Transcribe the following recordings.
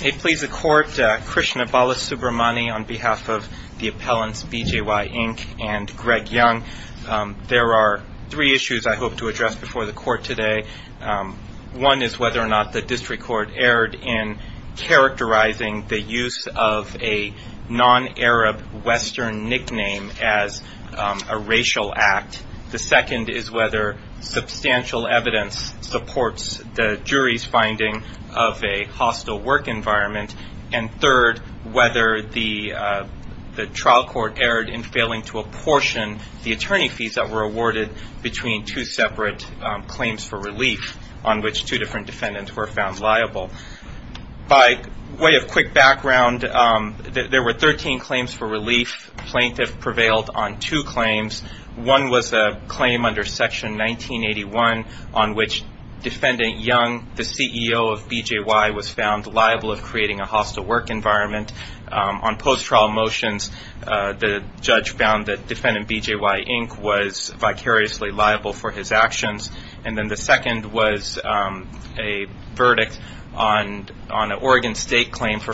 They please the court, Krishna Balasubramani on behalf of the appellants BJY, Inc. and Greg Young. There are three issues I hope to address before the court today. One is whether or not the district court erred in characterizing the use of a non-Arab Western nickname as a racial act. The second is whether substantial evidence supports the jury's finding of a hostile work environment. And third, whether the trial court erred in failing to apportion the attorney fees that were awarded between two separate claims for relief on which two different defendants were found liable. By way of quick background, there were 13 claims for relief. Plaintiff prevailed on two claims. One was a claim under Section 1981 on which Defendant Young, the CEO of BJY, was found liable of creating a hostile work environment. On post-trial motions, the judge found that Defendant BJY, Inc. was vicariously liable for his actions. And then the second was a verdict on an Oregon State claim for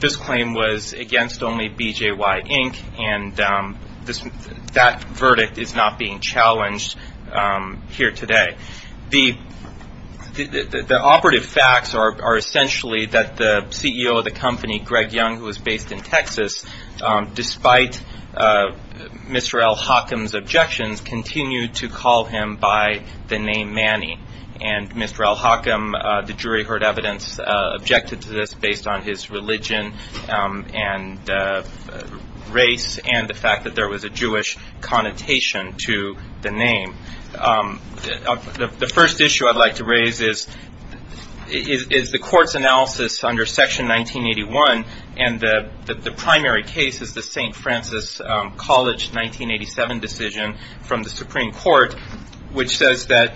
this claim was against only BJY, Inc. and that verdict is not being challenged here today. The operative facts are essentially that the CEO of the company, Greg Young, who was based in Texas, despite Mr. L. Hockham's objections, continued to call him by the name and race and the fact that there was a Jewish connotation to the name. The first issue I'd like to raise is the court's analysis under Section 1981 and the primary case is the St. Francis College 1987 decision from the Supreme Court, which says that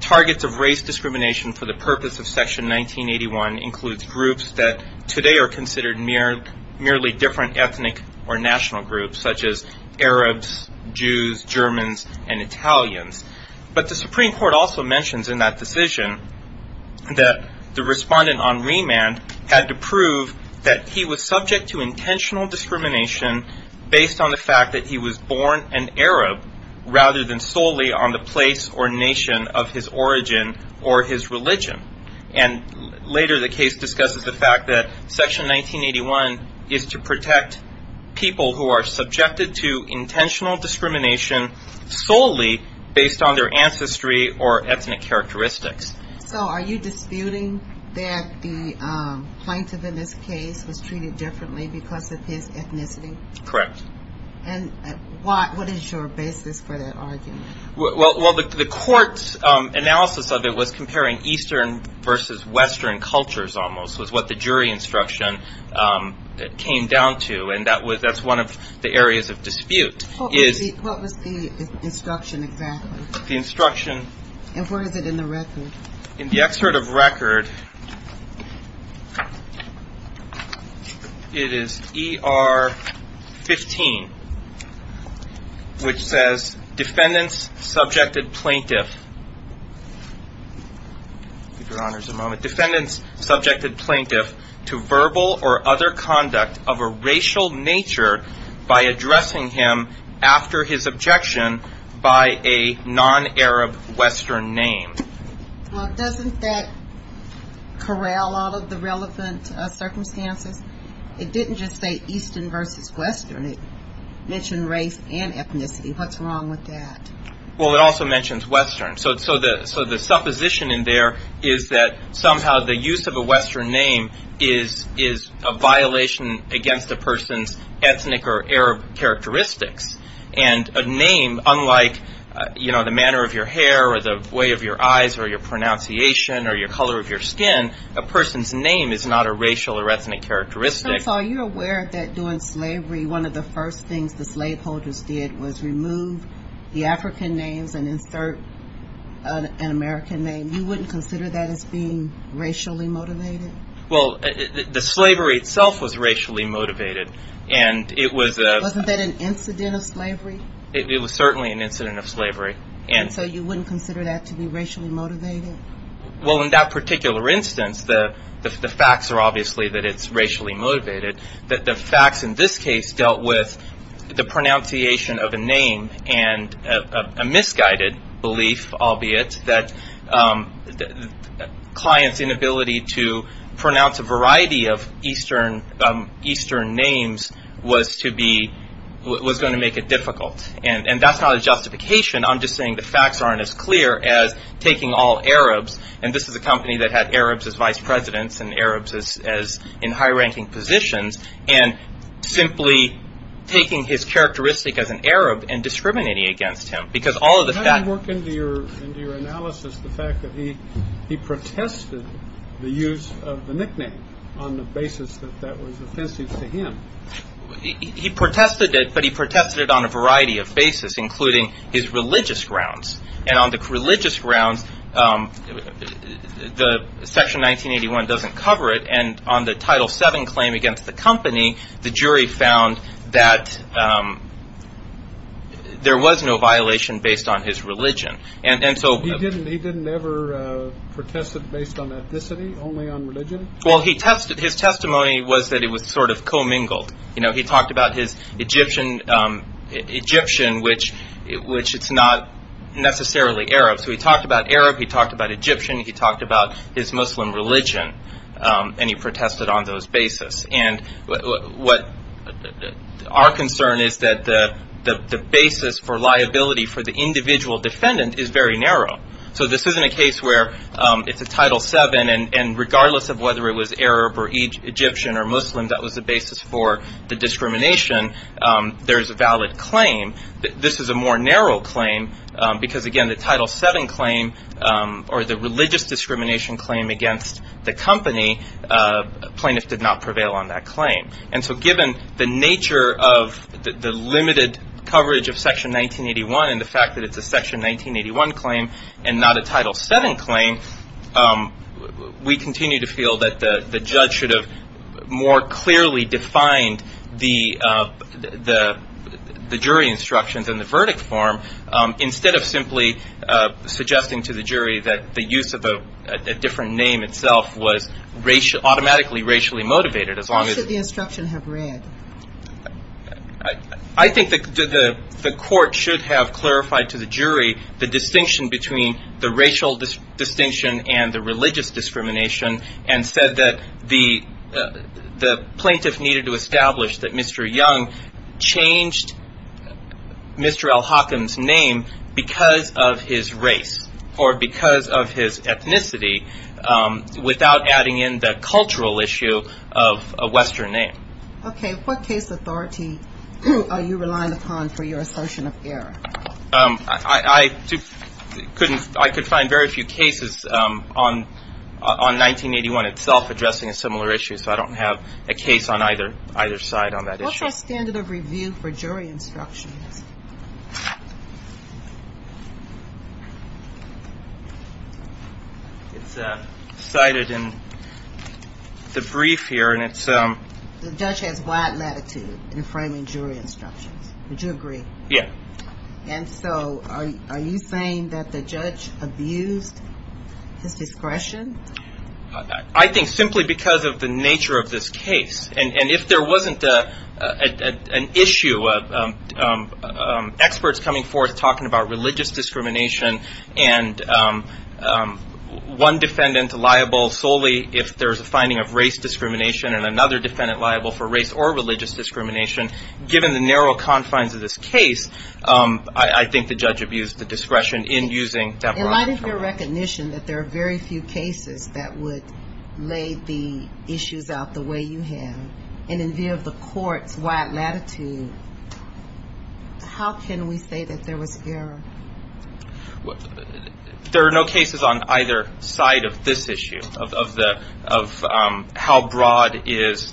targets of race discrimination for the purpose of Section 1981 includes groups that today are considered merely different ethnic or national groups such as Arabs, Jews, Germans, and Italians. But the Supreme Court also mentions in that decision that the respondent on remand had to prove that he was subject to intentional discrimination based on the fact that he was born an Arab rather than a place or nation of his origin or his religion. And later the case discusses the fact that Section 1981 is to protect people who are subjected to intentional discrimination solely based on their ancestry or ethnic characteristics. So are you disputing that the plaintiff in this case was treated differently because of his ethnicity? Correct. And what is your basis for that argument? Well, the court's analysis of it was comparing Eastern versus Western cultures almost was what the jury instruction came down to and that's one of the areas of dispute. What was the instruction exactly? The instruction And what is it in the record? In the excerpt of record, it is ER 15, which says defendants subjected plaintiff to verbal or other conduct of a racial nature by addressing him after his objection by a non-Arab Western name. Well, doesn't that corral all of the relevant circumstances? It didn't just say Eastern versus Western. It mentioned race and ethnicity. What's wrong with that? Well, it also mentions Western. So the supposition in there is that somehow the use of a Western name is a violation against a person's ethnic or Arab characteristics. And a name unlike, you know, the manner of your hair or the way of your eyes or your pronunciation or your color of your skin, a person's name is not a racial or ethnic characteristic. So you're aware that during slavery, one of the first things the slaveholders did was remove the African names and insert an American name. You wouldn't consider that as being racially motivated? Well, the slavery itself was racially motivated and it was Wasn't that an incident of slavery? It was certainly an incident of slavery. And so you wouldn't consider that to be racially motivated? Well, in that particular instance, the facts are obviously that it's racially motivated. The facts in this case dealt with the pronunciation of a name and a misguided belief, albeit, that the client's inability to pronounce a variety of Eastern names was going to make it difficult. And that's not a justification. I'm just saying the facts aren't as clear as taking all Arabs, and this is a company that had Arabs as vice presidents and Arabs as in high-ranking positions, and simply taking his characteristic as an Arab and discriminating against him. Because all of the facts How do you work into your analysis the fact that he protested the use of the nickname on the basis that that was offensive to him? He protested it, but he protested it on a variety of basis, including his religious grounds. And on the religious grounds, Section 1981 doesn't cover it. And on the Title VII claim against the company, the jury found that there was no violation based on his religion. He didn't ever protest it based on ethnicity, only on religion? His testimony was that it was sort of co-mingled. He talked about his Egyptian, which is not necessarily Arab. So he talked about Arab, he talked about Egyptian, he talked about his Muslim religion, and he protested on those basis. And our concern is that the basis for liability for the individual defendant is very narrow. So this isn't a case where it's whether it was Arab or Egyptian or Muslim that was the basis for the discrimination. There's a valid claim. This is a more narrow claim because, again, the Title VII claim or the religious discrimination claim against the company, plaintiffs did not prevail on that claim. And so given the nature of the limited coverage of Section 1981 and the appeal that the judge should have more clearly defined the jury instructions and the verdict form, instead of simply suggesting to the jury that the use of a different name itself was automatically racially motivated, as long as Why should the instruction have read? I think the court should have clarified to the jury the distinction between the racial distinction and the religious discrimination and said that the plaintiff needed to establish that Mr. Young changed Mr. L. Hawkins' name because of his race or because of his ethnicity without adding in the cultural issue of a Western name. Okay. What case authority are you relying upon for your assertion of error? I could find very few cases on 1981 itself addressing a similar issue, so I don't have a case on either side on that issue. What's our standard of review for jury instructions? It's cited in the brief here and it's The judge has wide latitude in framing jury instructions. Would you agree? Yeah. And so are you saying that the judge abused his discretion? I think simply because of the nature of this case. And if there wasn't an issue of experts coming forth talking about religious discrimination and one defendant liable solely if there's a finding of race discrimination and another defendant liable for race or religious discrimination, given the narrow confines of this case, I think the judge abused the discretion in using that. In light of your recognition that there are very few cases that would lay the issues out the way you have, and in view of the court's wide latitude, how can we say that there was error? There are no cases on either side of this issue of how broad is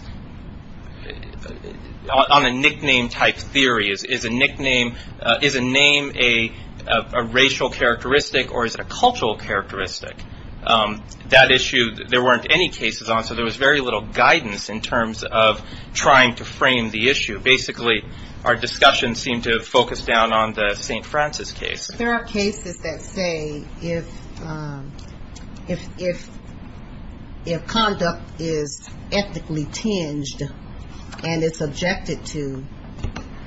on a nickname type theory, is a name a racial characteristic or is it a cultural characteristic? That issue, there weren't any cases on, so there was very little guidance in terms of trying to frame the issue. Basically, our discussion seemed to focus down on the St. Francis case. There are cases that say if conduct is ethically tinged and it's objected to,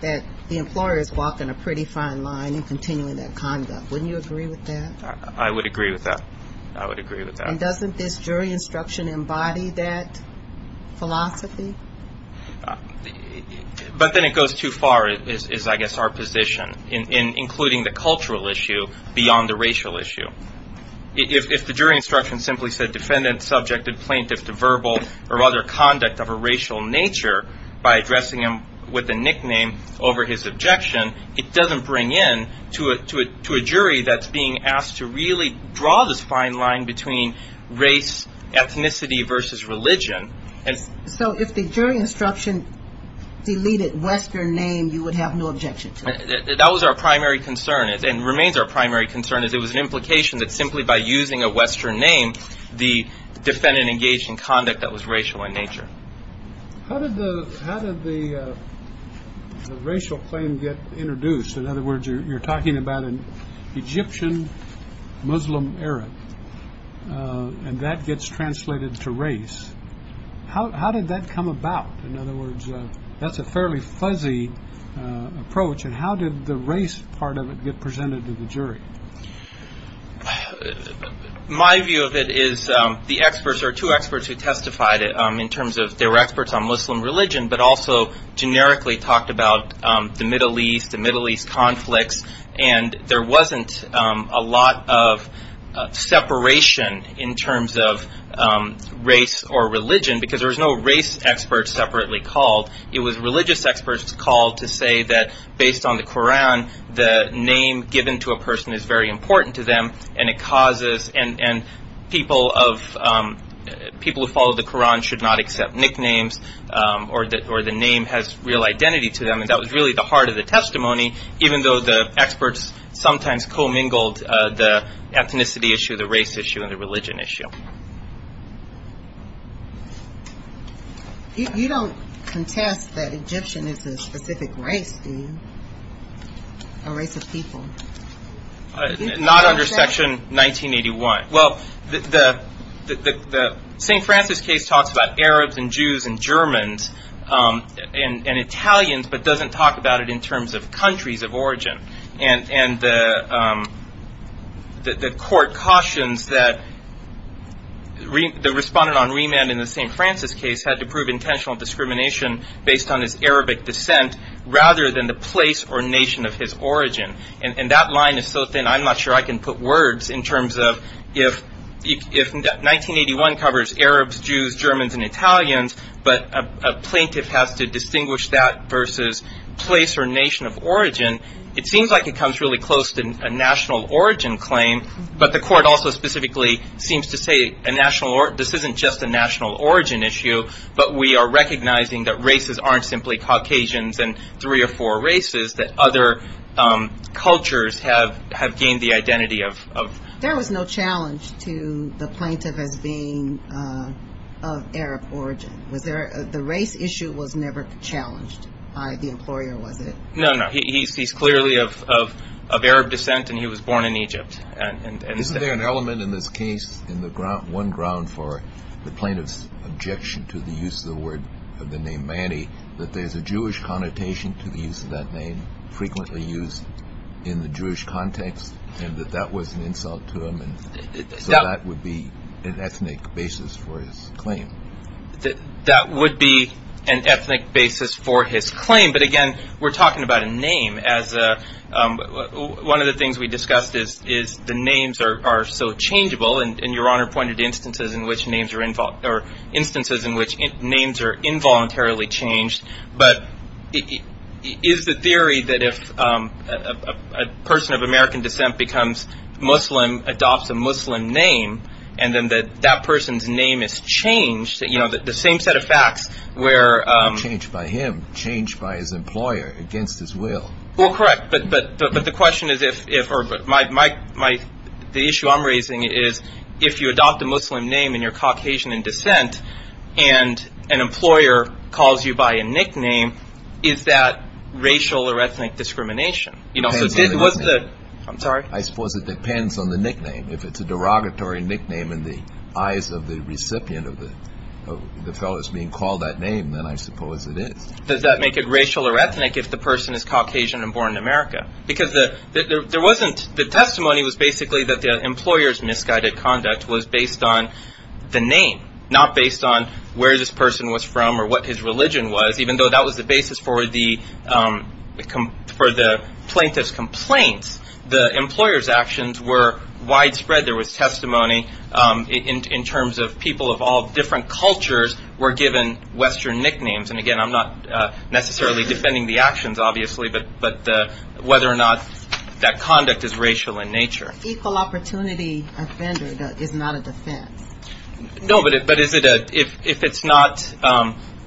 that the employer is walking a pretty fine line in continuing that conduct. Wouldn't you agree with that? I would agree with that. I would agree with that. And doesn't this jury instruction embody that philosophy? But then it goes too far, is I guess our position, including the cultural issue beyond the racial issue. If the jury instruction simply said defendant subjected plaintiff to verbal or other conduct of a racial nature by addressing him with a nickname over his objection, it doesn't bring in to a jury that's being asked to really draw this fine line between race, ethnicity versus religion. So if the jury instruction deleted Western name, you would have no objection to it? That was our primary concern and remains our primary concern. It was an implication that simply by using a Western name, the defendant engaged in conduct that was racial in nature. So in other words, you're talking about an Egyptian Muslim Arab and that gets translated to race. How did that come about? In other words, that's a fairly fuzzy approach. And how did the race part of it get presented to the jury? My view of it is the experts are two experts who testified in terms of their experts on Muslim religion, but also generically talked about the Middle East and Middle East conflicts. And there wasn't a lot of separation in terms of race or religion because there was no race experts separately called. It was religious experts called to say that based on the Koran, the name given to a person is very important to them. And people who follow the Koran should not accept nicknames or the name has real identity to them. And that was really the heart of the testimony, even though the experts sometimes co-mingled the ethnicity issue, the race issue, and the religion issue. You don't contest that Egyptian is a specific race, do you? A race of people? Not under Section 1981. Well, the St. Francis case talks about Arabs and Jews and Germans and Italians, but doesn't talk about it in terms of countries of origin. And the court cautions that the respondent on remand in the St. Francis case had to prove intentional discrimination based on his Arabic descent rather than the place or nation of his origin. And that line is so thin I'm not sure I can put words in terms of if 1981 covers Arabs, Jews, Germans, and Italians, but a plaintiff has to distinguish that versus place or nation of origin, it seems like it comes really close to a national origin claim. But the court also specifically seems to say this isn't just a national origin issue, but we are recognizing that races aren't simply Caucasians and three or four races, that other cultures have gained the identity of. There was no challenge to the plaintiff as being of Arab origin. The race issue was never challenged by the employer, was it? No, no. He's clearly of Arab descent and he was born in Egypt. Isn't there an element in this case, one ground for the plaintiff's objection to the use of the name Manny, that there's a Jewish connotation to the use of that name frequently used in the Jewish context and that that was an insult to him and so that would be an ethnic basis for his claim? That would be an ethnic basis for his claim, but again, we're talking about a name. One of the things we discussed is the names are so changeable, and Your Honor pointed to instances in which names are involuntarily changed. But is the theory that if a person of American descent becomes Muslim, adopts a Muslim name, and then that that person's name is changed, the same set of facts where- Not changed by him, changed by his employer against his will. Well, correct, but the question is if, or the issue I'm raising is if you adopt a Muslim name and you're Caucasian in descent and an employer calls you by a nickname, is that racial or ethnic discrimination? Depends on the nickname. I'm sorry? I suppose it depends on the nickname. If it's a derogatory nickname in the eyes of the recipient of the fellow that's being called that name, then I suppose it is. Does that make it racial or ethnic if the person is Caucasian and born in America? Because the testimony was basically that the employer's misguided conduct was based on the name, not based on where this person was from or what his religion was, even though that was the basis for the plaintiff's complaints. The employer's actions were widespread. There was testimony in terms of people of all different cultures were given Western nicknames. And, again, I'm not necessarily defending the actions, obviously, but whether or not that conduct is racial in nature. An equal opportunity offender is not a defense. No, but if it's not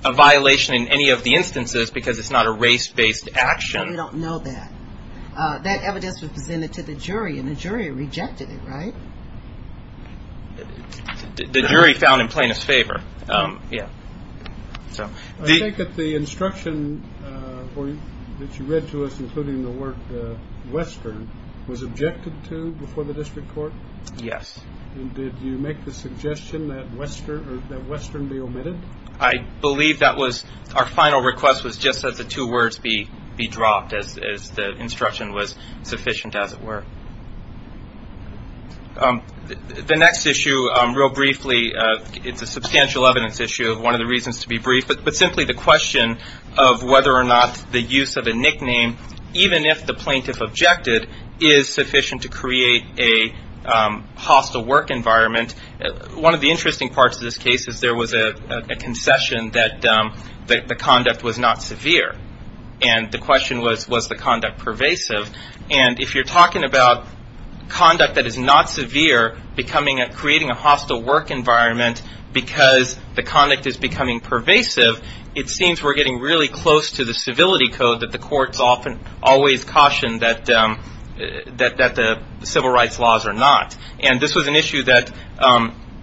a violation in any of the instances because it's not a race-based action. We don't know that. That evidence was presented to the jury, and the jury rejected it, right? The jury found in plaintiff's favor. I think that the instruction that you read to us, including the word Western, was objected to before the district court? Yes. Did you make the suggestion that Western be omitted? I believe that was our final request was just that the two words be dropped as the instruction was sufficient as it were. The next issue, real briefly, it's a substantial evidence issue. One of the reasons to be brief, but simply the question of whether or not the use of a nickname, even if the plaintiff objected, is sufficient to create a hostile work environment. One of the interesting parts of this case is there was a concession that the conduct was not severe. And the question was, was the conduct pervasive? And if you're talking about conduct that is not severe, creating a hostile work environment because the conduct is becoming pervasive, it seems we're getting really close to the civility code that the courts always caution that the civil rights laws are not. And this was an issue that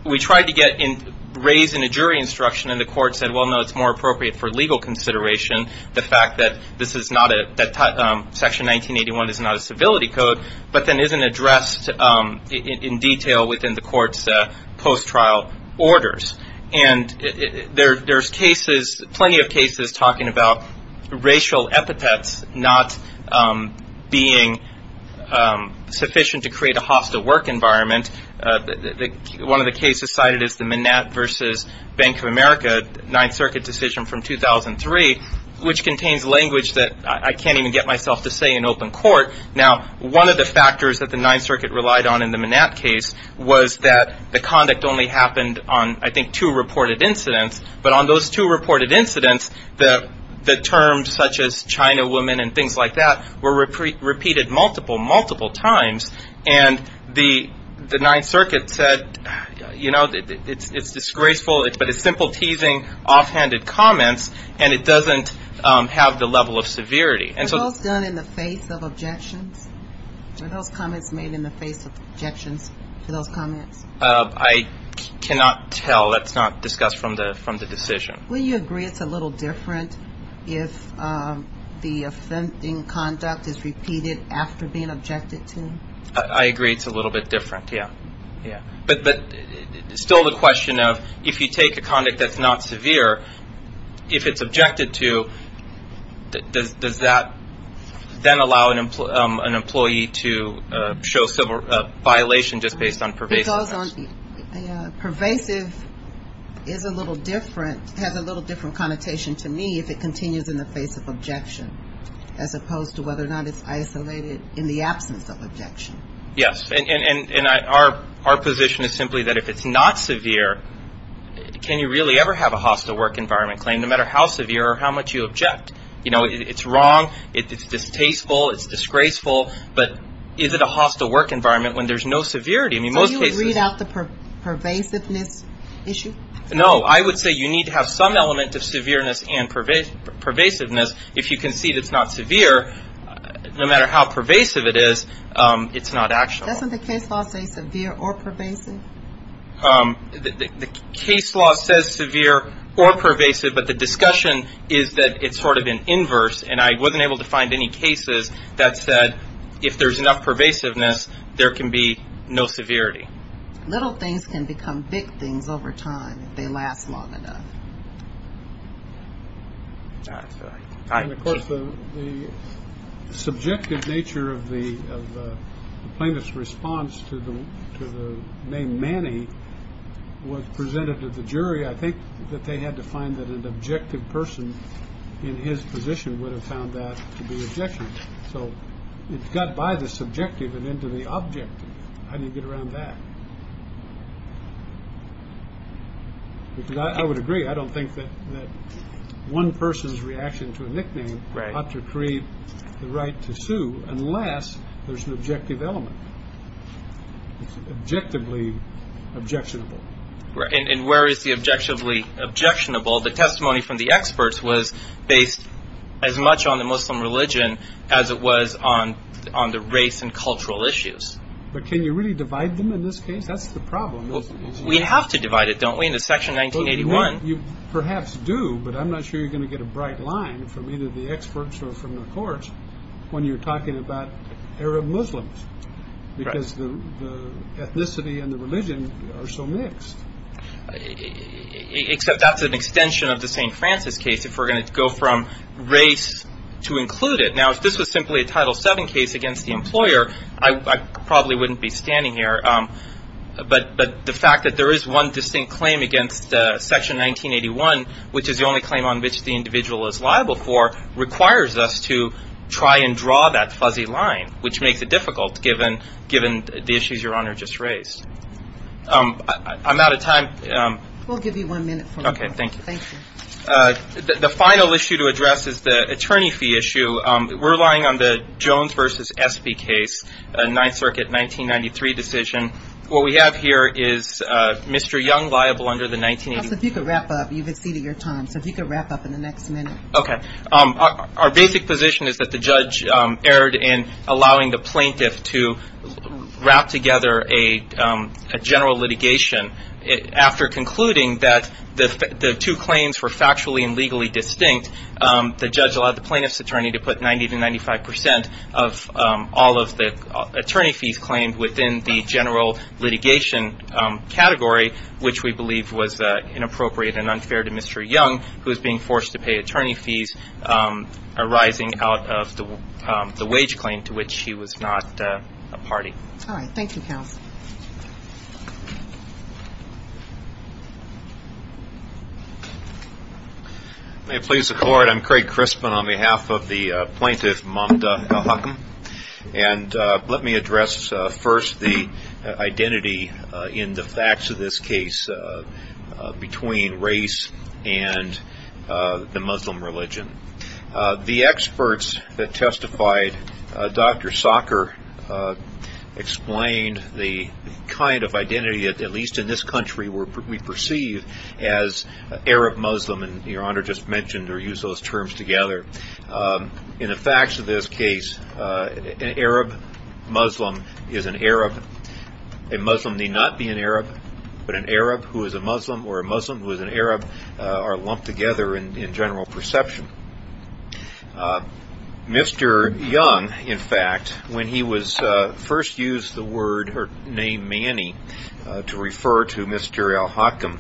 we tried to get raised in a jury instruction, and the court said, well, no, it's more appropriate for legal consideration, the fact that section 1981 is not a civility code, but then isn't addressed in detail within the court's post-trial orders. And there's plenty of cases talking about racial epithets not being sufficient to create a hostile work environment. One of the cases cited is the Manette versus Bank of America Ninth Circuit decision from 2003, which contains language that I can't even get myself to say in open court. Now, one of the factors that the Ninth Circuit relied on in the Manette case was that the conduct only happened on, I think, two reported incidents, but on those two reported incidents, the terms such as China woman and things like that were repeated multiple, multiple times. And the Ninth Circuit said, you know, it's disgraceful, but it's simple teasing, offhanded comments, and it doesn't have the level of severity. Are those done in the face of objections? Are those comments made in the face of objections to those comments? I cannot tell. That's not discussed from the decision. Well, you agree it's a little different if the offending conduct is repeated after being objected to? I agree it's a little bit different, yeah. But still the question of if you take a conduct that's not severe, if it's objected to, does that then allow an employee to show violation just based on pervasive action? Pervasive is a little different, has a little different connotation to me if it continues in the face of objection, as opposed to whether or not it's isolated in the absence of objection. Yes. And our position is simply that if it's not severe, can you really ever have a hostile work environment claim, no matter how severe or how much you object? You know, it's wrong, it's distasteful, it's disgraceful, but is it a hostile work environment when there's no severity? So you would read out the pervasiveness issue? No. I would say you need to have some element of severeness and pervasiveness. If you concede it's not severe, no matter how pervasive it is, it's not actionable. Doesn't the case law say severe or pervasive? The case law says severe or pervasive, but the discussion is that it's sort of an inverse, and I wasn't able to find any cases that said if there's enough pervasiveness, there can be no severity. Little things can become big things over time if they last long enough. And, of course, the subjective nature of the plaintiff's response to the name Manny was presented to the jury. I think that they had to find that an objective person in his position would have found that to be objectionable. So it got by the subjective and into the objective. How do you get around that? I would agree. I don't think that one person's reaction to a nickname ought to create the right to sue unless there's an objective element. It's objectively objectionable. And where is the objectively objectionable? The testimony from the experts was based as much on the Muslim religion as it was on the race and cultural issues. But can you really divide them in this case? That's the problem. We have to divide it, don't we, into Section 1981. You perhaps do, but I'm not sure you're going to get a bright line from either the experts or from the courts when you're talking about Arab Muslims because the ethnicity and the religion are so mixed. Except that's an extension of the St. Francis case if we're going to go from race to include it. Now, if this was simply a Title VII case against the employer, I probably wouldn't be standing here. But the fact that there is one distinct claim against Section 1981, which is the only claim on which the individual is liable for, requires us to try and draw that fuzzy line, which makes it difficult given the issues Your Honor just raised. I'm out of time. We'll give you one minute. Okay, thank you. Thank you. The final issue to address is the attorney fee issue. We're relying on the Jones v. Espy case, a Ninth Circuit 1993 decision. What we have here is Mr. Young liable under the 1983. So if you could wrap up, you've exceeded your time. So if you could wrap up in the next minute. Okay. Our basic position is that the judge erred in allowing the plaintiff to wrap together a general litigation. After concluding that the two claims were factually and legally distinct, the judge allowed the plaintiff's attorney to put 90% to 95% of all of the attorney fees claimed within the general litigation category, which we believe was inappropriate and unfair to Mr. Young, who is being forced to pay attorney fees arising out of the wage claim to which he was not a party. All right. Thank you, counsel. May it please the Court, I'm Craig Crispin on behalf of the plaintiff, Mamda Al-Hakam. And let me address first the identity in the facts of this case between race and the Muslim religion. The experts that testified, Dr. Socker, explained the kind of identity that at least in this country we perceive as Arab Muslim, and Your Honor just mentioned or used those terms together. In the facts of this case, an Arab Muslim is an Arab. A Muslim may not be an Arab, but an Arab who is a Muslim or a Muslim who is an Arab are lumped together in general perception. Mr. Young, in fact, when he first used the word or name Manny to refer to Mr. Al-Hakam,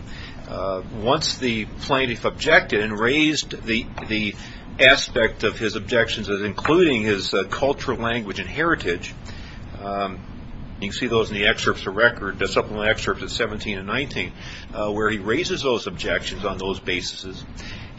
once the plaintiff objected and raised the aspect of his objections as including his cultural language and heritage, you can see those in the excerpts of record, the supplemental excerpts of 17 and 19, where he raises those objections on those basis.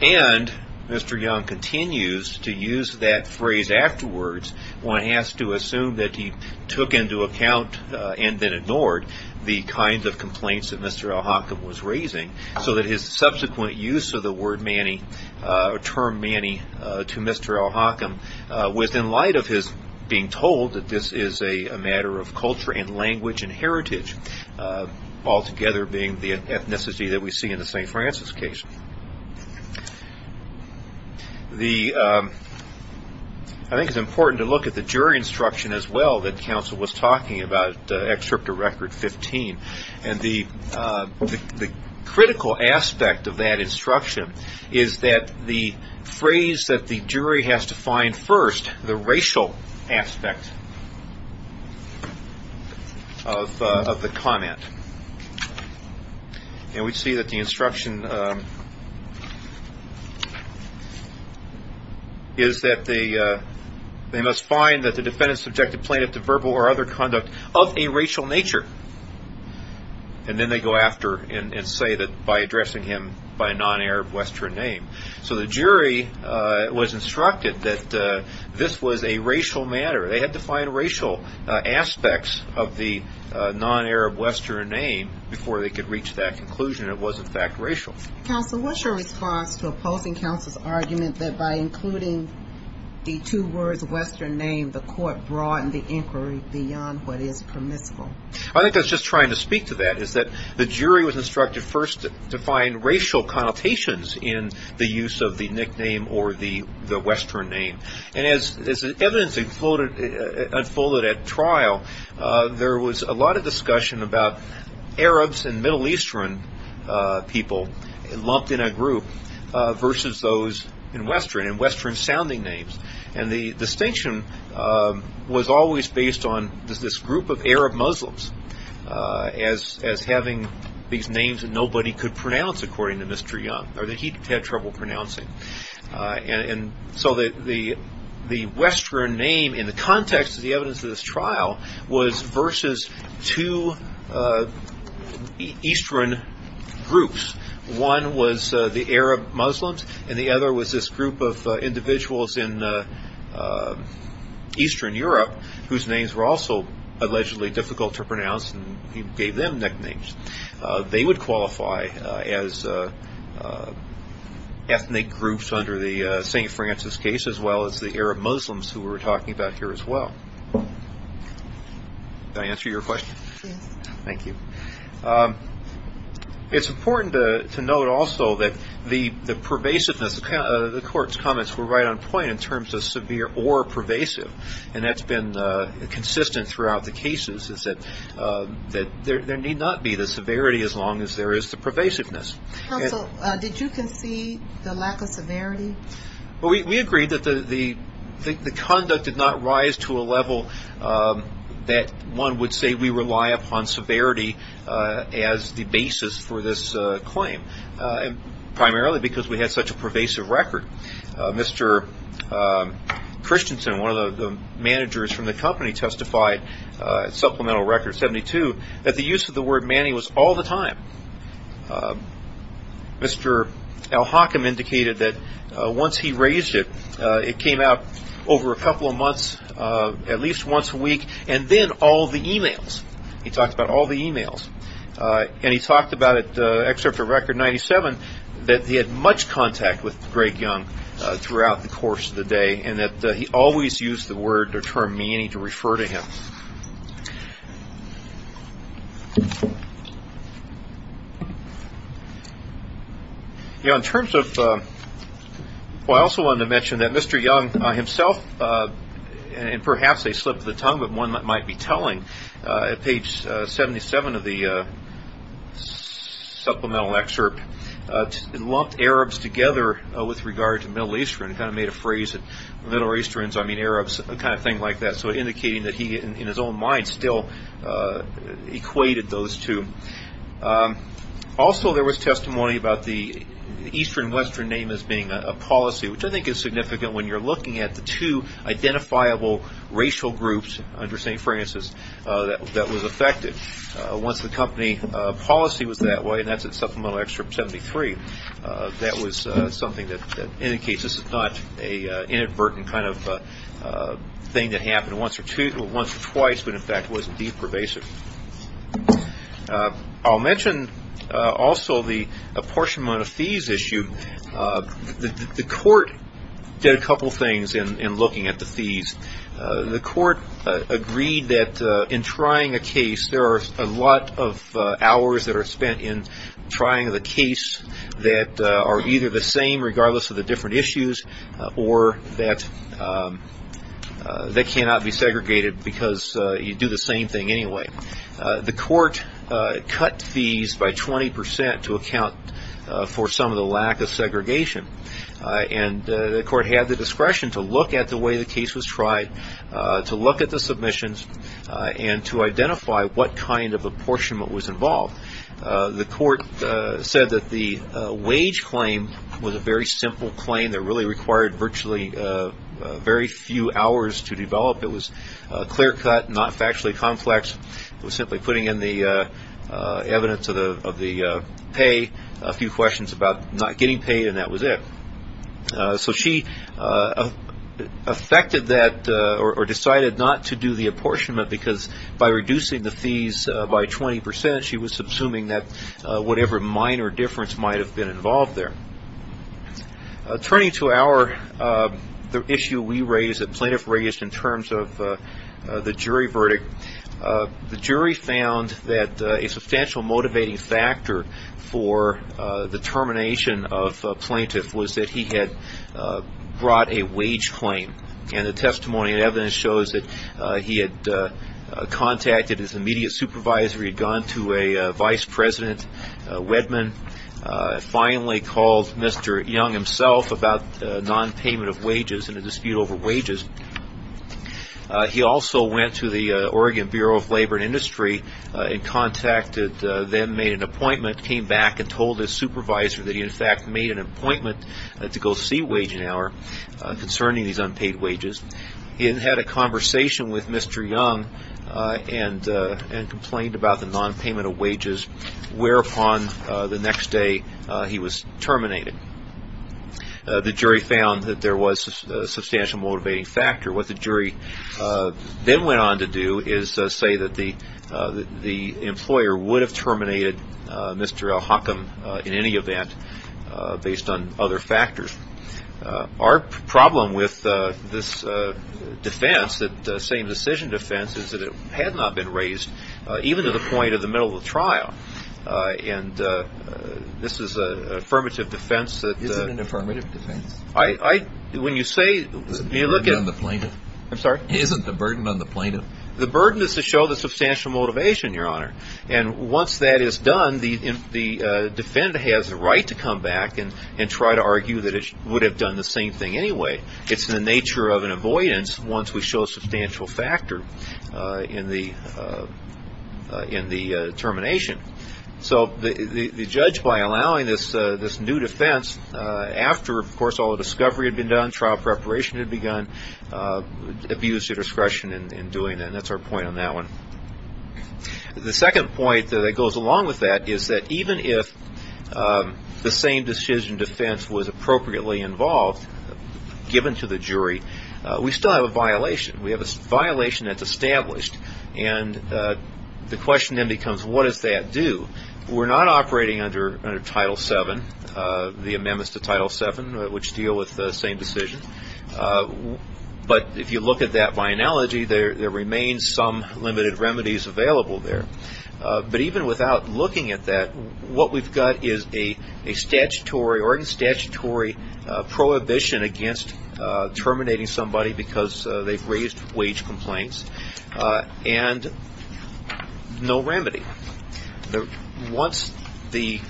And Mr. Young continues to use that phrase afterwards when he has to assume that he took into account and then ignored the kinds of complaints that Mr. Al-Hakam was raising, so that his subsequent use of the term Manny to Mr. Al-Hakam was in light of his being told that this is a matter of culture and language and heritage, altogether being the ethnicity that we see in the St. Francis case. I think it's important to look at the jury instruction as well that counsel was talking about, the excerpt of record 15. And the critical aspect of that instruction is that the phrase that the jury has to find first, the racial aspect of the comment. And we see that the instruction is that they must find that the defendant subjected the plaintiff to verbal or other conduct of a racial nature. And then they go after and say that by addressing him by a non-Arab Western name. So the jury was instructed that this was a racial matter. They had to find racial aspects of the non-Arab Western name before they could reach that conclusion it was in fact racial. Counsel, what's your response to opposing counsel's argument that by including the two words Western name, the court broadened the inquiry beyond what is permissible? I think that's just trying to speak to that, is that the jury was instructed first to find racial connotations in the use of the nickname or the Western name. And as evidence unfolded at trial, there was a lot of discussion about Arabs and Middle Eastern people lumped in a group versus those in Western, and Western sounding names. And the distinction was always based on this group of Arab Muslims as having these names that nobody could pronounce, according to Mr. Young, or that he had trouble pronouncing. And so the Western name in the context of the evidence of this trial was versus two Eastern groups. One was the Arab Muslims, and the other was this group of individuals in Eastern Europe, whose names were also allegedly difficult to pronounce, and he gave them nicknames. They would qualify as ethnic groups under the St. Francis case, as well as the Arab Muslims who we're talking about here as well. Did I answer your question? Yes. Thank you. It's important to note also that the pervasiveness of the court's comments were right on point in terms of severe or pervasive, and that's been consistent throughout the cases, is that there need not be the severity as long as there is the pervasiveness. Counsel, did you concede the lack of severity? We agreed that the conduct did not rise to a level that one would say we rely upon severity as the basis for this claim, primarily because we had such a pervasive record. Mr. Christensen, one of the managers from the company, testified, supplemental record 72, that the use of the word Manny was all the time. Mr. Al-Hakim indicated that once he raised it, it came out over a couple of months, at least once a week, and then all the emails. He talked about all the emails. He talked about it, excerpt from record 97, that he had much contact with Greg Young throughout the course of the day and that he always used the word or term Manny to refer to him. I also wanted to mention that Mr. Young himself, and perhaps I slipped the tongue, but one might be telling, at page 77 of the supplemental excerpt, lumped Arabs together with regard to Middle Eastern. He kind of made a phrase that Middle Easterns, I mean Arabs, kind of thing like that, so indicating that he, in his own mind, still equated those two. Also, there was testimony about the Eastern and Western name as being a policy, which I think is significant when you're looking at the two identifiable racial groups under St. Francis that was affected. Once the company policy was that way, and that's in supplemental excerpt 73, that was something that indicates this is not an inadvertent kind of thing that happened once or twice, but in fact was indeed pervasive. I'll mention also the apportionment of fees issue. The court did a couple things in looking at the fees. The court agreed that in trying a case, there are a lot of hours that are spent in trying the case that are either the same regardless of the different issues or that cannot be segregated because you do the same thing anyway. The court cut fees by 20% to account for some of the lack of segregation. The court had the discretion to look at the way the case was tried, to look at the submissions, and to identify what kind of apportionment was involved. The court said that the wage claim was a very simple claim that really required virtually very few hours to develop. It was clear cut, not factually complex. It was simply putting in the evidence of the pay, a few questions about not getting paid, and that was it. So she decided not to do the apportionment because by reducing the fees by 20%, she was assuming that whatever minor difference might have been involved there. Turning to our issue we raised, the plaintiff raised in terms of the jury verdict, the jury found that a substantial motivating factor for the termination of a plaintiff was that he had brought a wage claim. And the testimony and evidence shows that he had contacted his immediate supervisor. He had gone to a vice president, Wedman, finally called Mr. Young himself about non-payment of wages and a dispute over wages. He also went to the Oregon Bureau of Labor and Industry and contacted them, made an appointment, came back and told his supervisor that he in fact made an appointment to go see Wage and Hour concerning these unpaid wages. He then had a conversation with Mr. Young and complained about the non-payment of wages, whereupon the next day he was terminated. The jury found that there was a substantial motivating factor. What the jury then went on to do is say that the employer would have terminated Mr. El-Hakim in any event based on other factors. Our problem with this defense, the same decision defense, is that it had not been raised even to the point of the middle of the trial. And this is an affirmative defense. Isn't it an affirmative defense? When you say – Isn't it a burden on the plaintiff? I'm sorry? Isn't it a burden on the plaintiff? The burden is to show the substantial motivation, Your Honor. And once that is done, the defendant has the right to come back and try to argue that it would have done the same thing anyway. It's in the nature of an avoidance once we show a substantial factor in the termination. So the judge, by allowing this new defense after, of course, all the discovery had been done, trial preparation had begun, abused your discretion in doing that. And that's our point on that one. The second point that goes along with that is that even if the same decision defense was appropriately involved, given to the jury, we still have a violation. We have a violation that's established. And the question then becomes, what does that do? We're not operating under Title VII, the amendments to Title VII, which deal with the same decision. But if you look at that by analogy, there remain some limited remedies available there. But even without looking at that, what we've got is a statutory or a statutory prohibition against terminating somebody because they've raised wage complaints and no remedy. Once the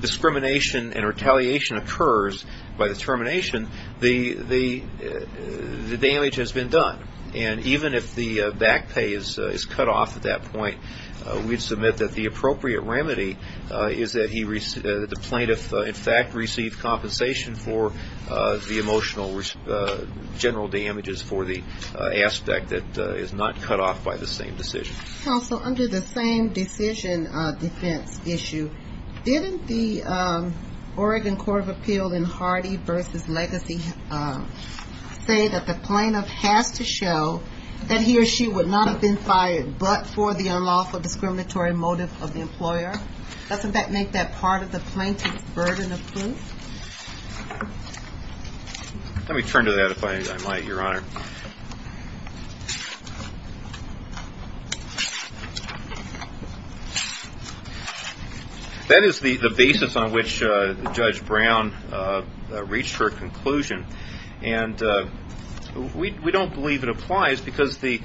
discrimination and retaliation occurs by the termination, the damage has been done. And even if the back pay is cut off at that point, we'd submit that the appropriate remedy is that the plaintiff, in fact, received compensation for the emotional general damages for the aspect that is not cut off by the same decision. Counsel, under the same decision defense issue, didn't the Oregon Court of Appeal in Hardy v. Legacy say that the plaintiff has to show that he or she would not have been fired but for the unlawful discriminatory motive of the employer? Doesn't that make that part of the plaintiff's burden of proof? Let me turn to that, if I might, Your Honor. That is the basis on which Judge Brown reached her conclusion. And we don't believe it applies because the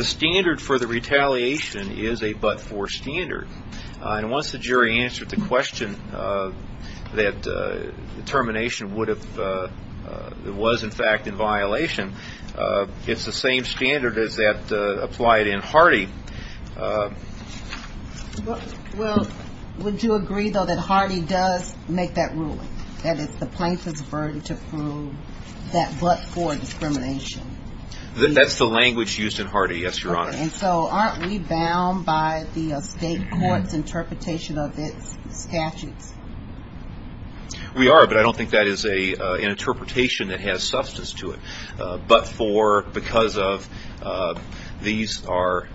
standard for the retaliation is a but-for standard. And once the jury answered the question that termination was, in fact, in violation, it's the same standard as that applied in Hardy. Well, would you agree, though, that Hardy does make that ruling, that it's the plaintiff's burden to prove that but-for discrimination? That's the language used in Hardy, yes, Your Honor. And so aren't we bound by the state court's interpretation of its statutes? We are, but I don't think that is an interpretation that has substance to it. But for because of these are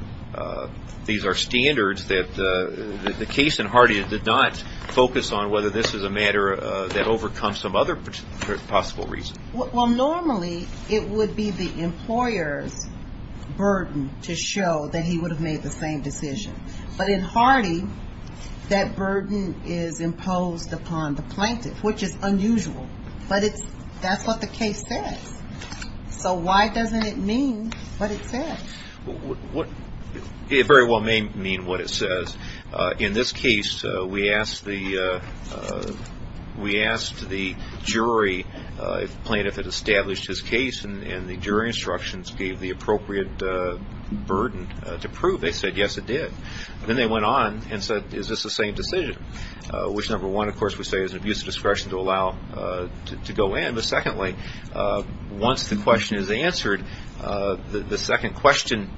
standards that the case in Hardy did not focus on whether this is a matter that overcomes some other possible reason. Well, normally it would be the employer's burden to show that he would have made the same decision. But in Hardy, that burden is imposed upon the plaintiff, which is unusual. But that's what the case says. So why doesn't it mean what it says? It very well may mean what it says. In this case, we asked the jury, if the plaintiff had established his case, and the jury instructions gave the appropriate burden to prove. They said, yes, it did. Then they went on and said, is this the same decision? Which, number one, of course, we say is an abuse of discretion to allow to go in. Once the question is answered, the second question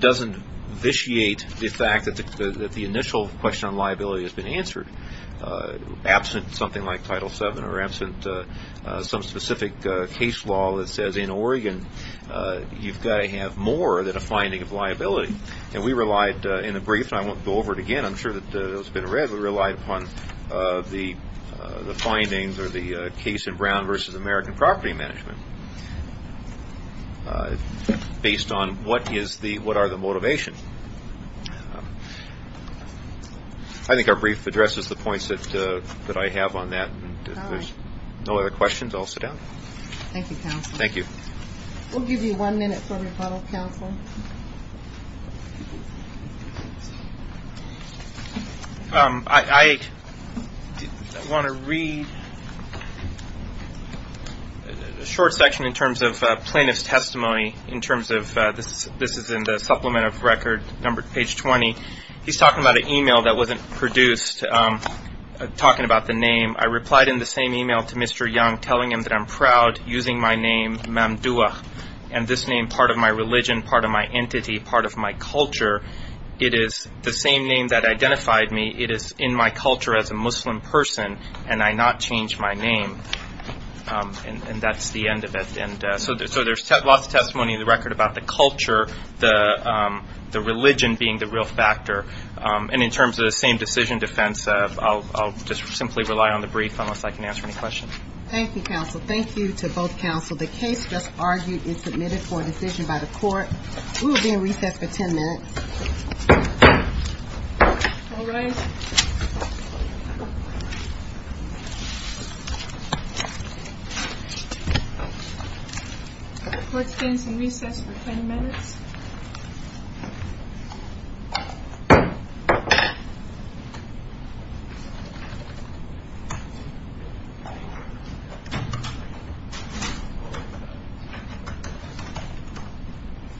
doesn't vitiate the fact that the initial question on liability has been answered. Absent something like Title VII or absent some specific case law that says in Oregon you've got to have more than a finding of liability. And we relied, in the brief, and I won't go over it again, I'm sure that it's been read, we relied upon the findings or the case in Brown v. American Property Management based on what are the motivations. I think our brief addresses the points that I have on that. If there's no other questions, I'll sit down. Thank you, counsel. Thank you. We'll give you one minute for rebuttal, counsel. I want to read a short section in terms of plaintiff's testimony, in terms of this is in the supplement of record, page 20. He's talking about an email that wasn't produced, talking about the name. I replied in the same email to Mr. Young, telling him that I'm proud using my name, Mamdouh, and this name, part of my religion, part of my entity, part of my culture. It is the same name that identified me. It is in my culture as a Muslim person, and I not change my name. And that's the end of it. And so there's lots of testimony in the record about the culture, the religion being the real factor. And in terms of the same decision defense, I'll just simply rely on the brief unless I can answer any questions. Thank you, counsel. Thank you to both counsel. The case just argued and submitted for a decision by the court. We will be in recess for 10 minutes. All rise. The court stands in recess for 10 minutes.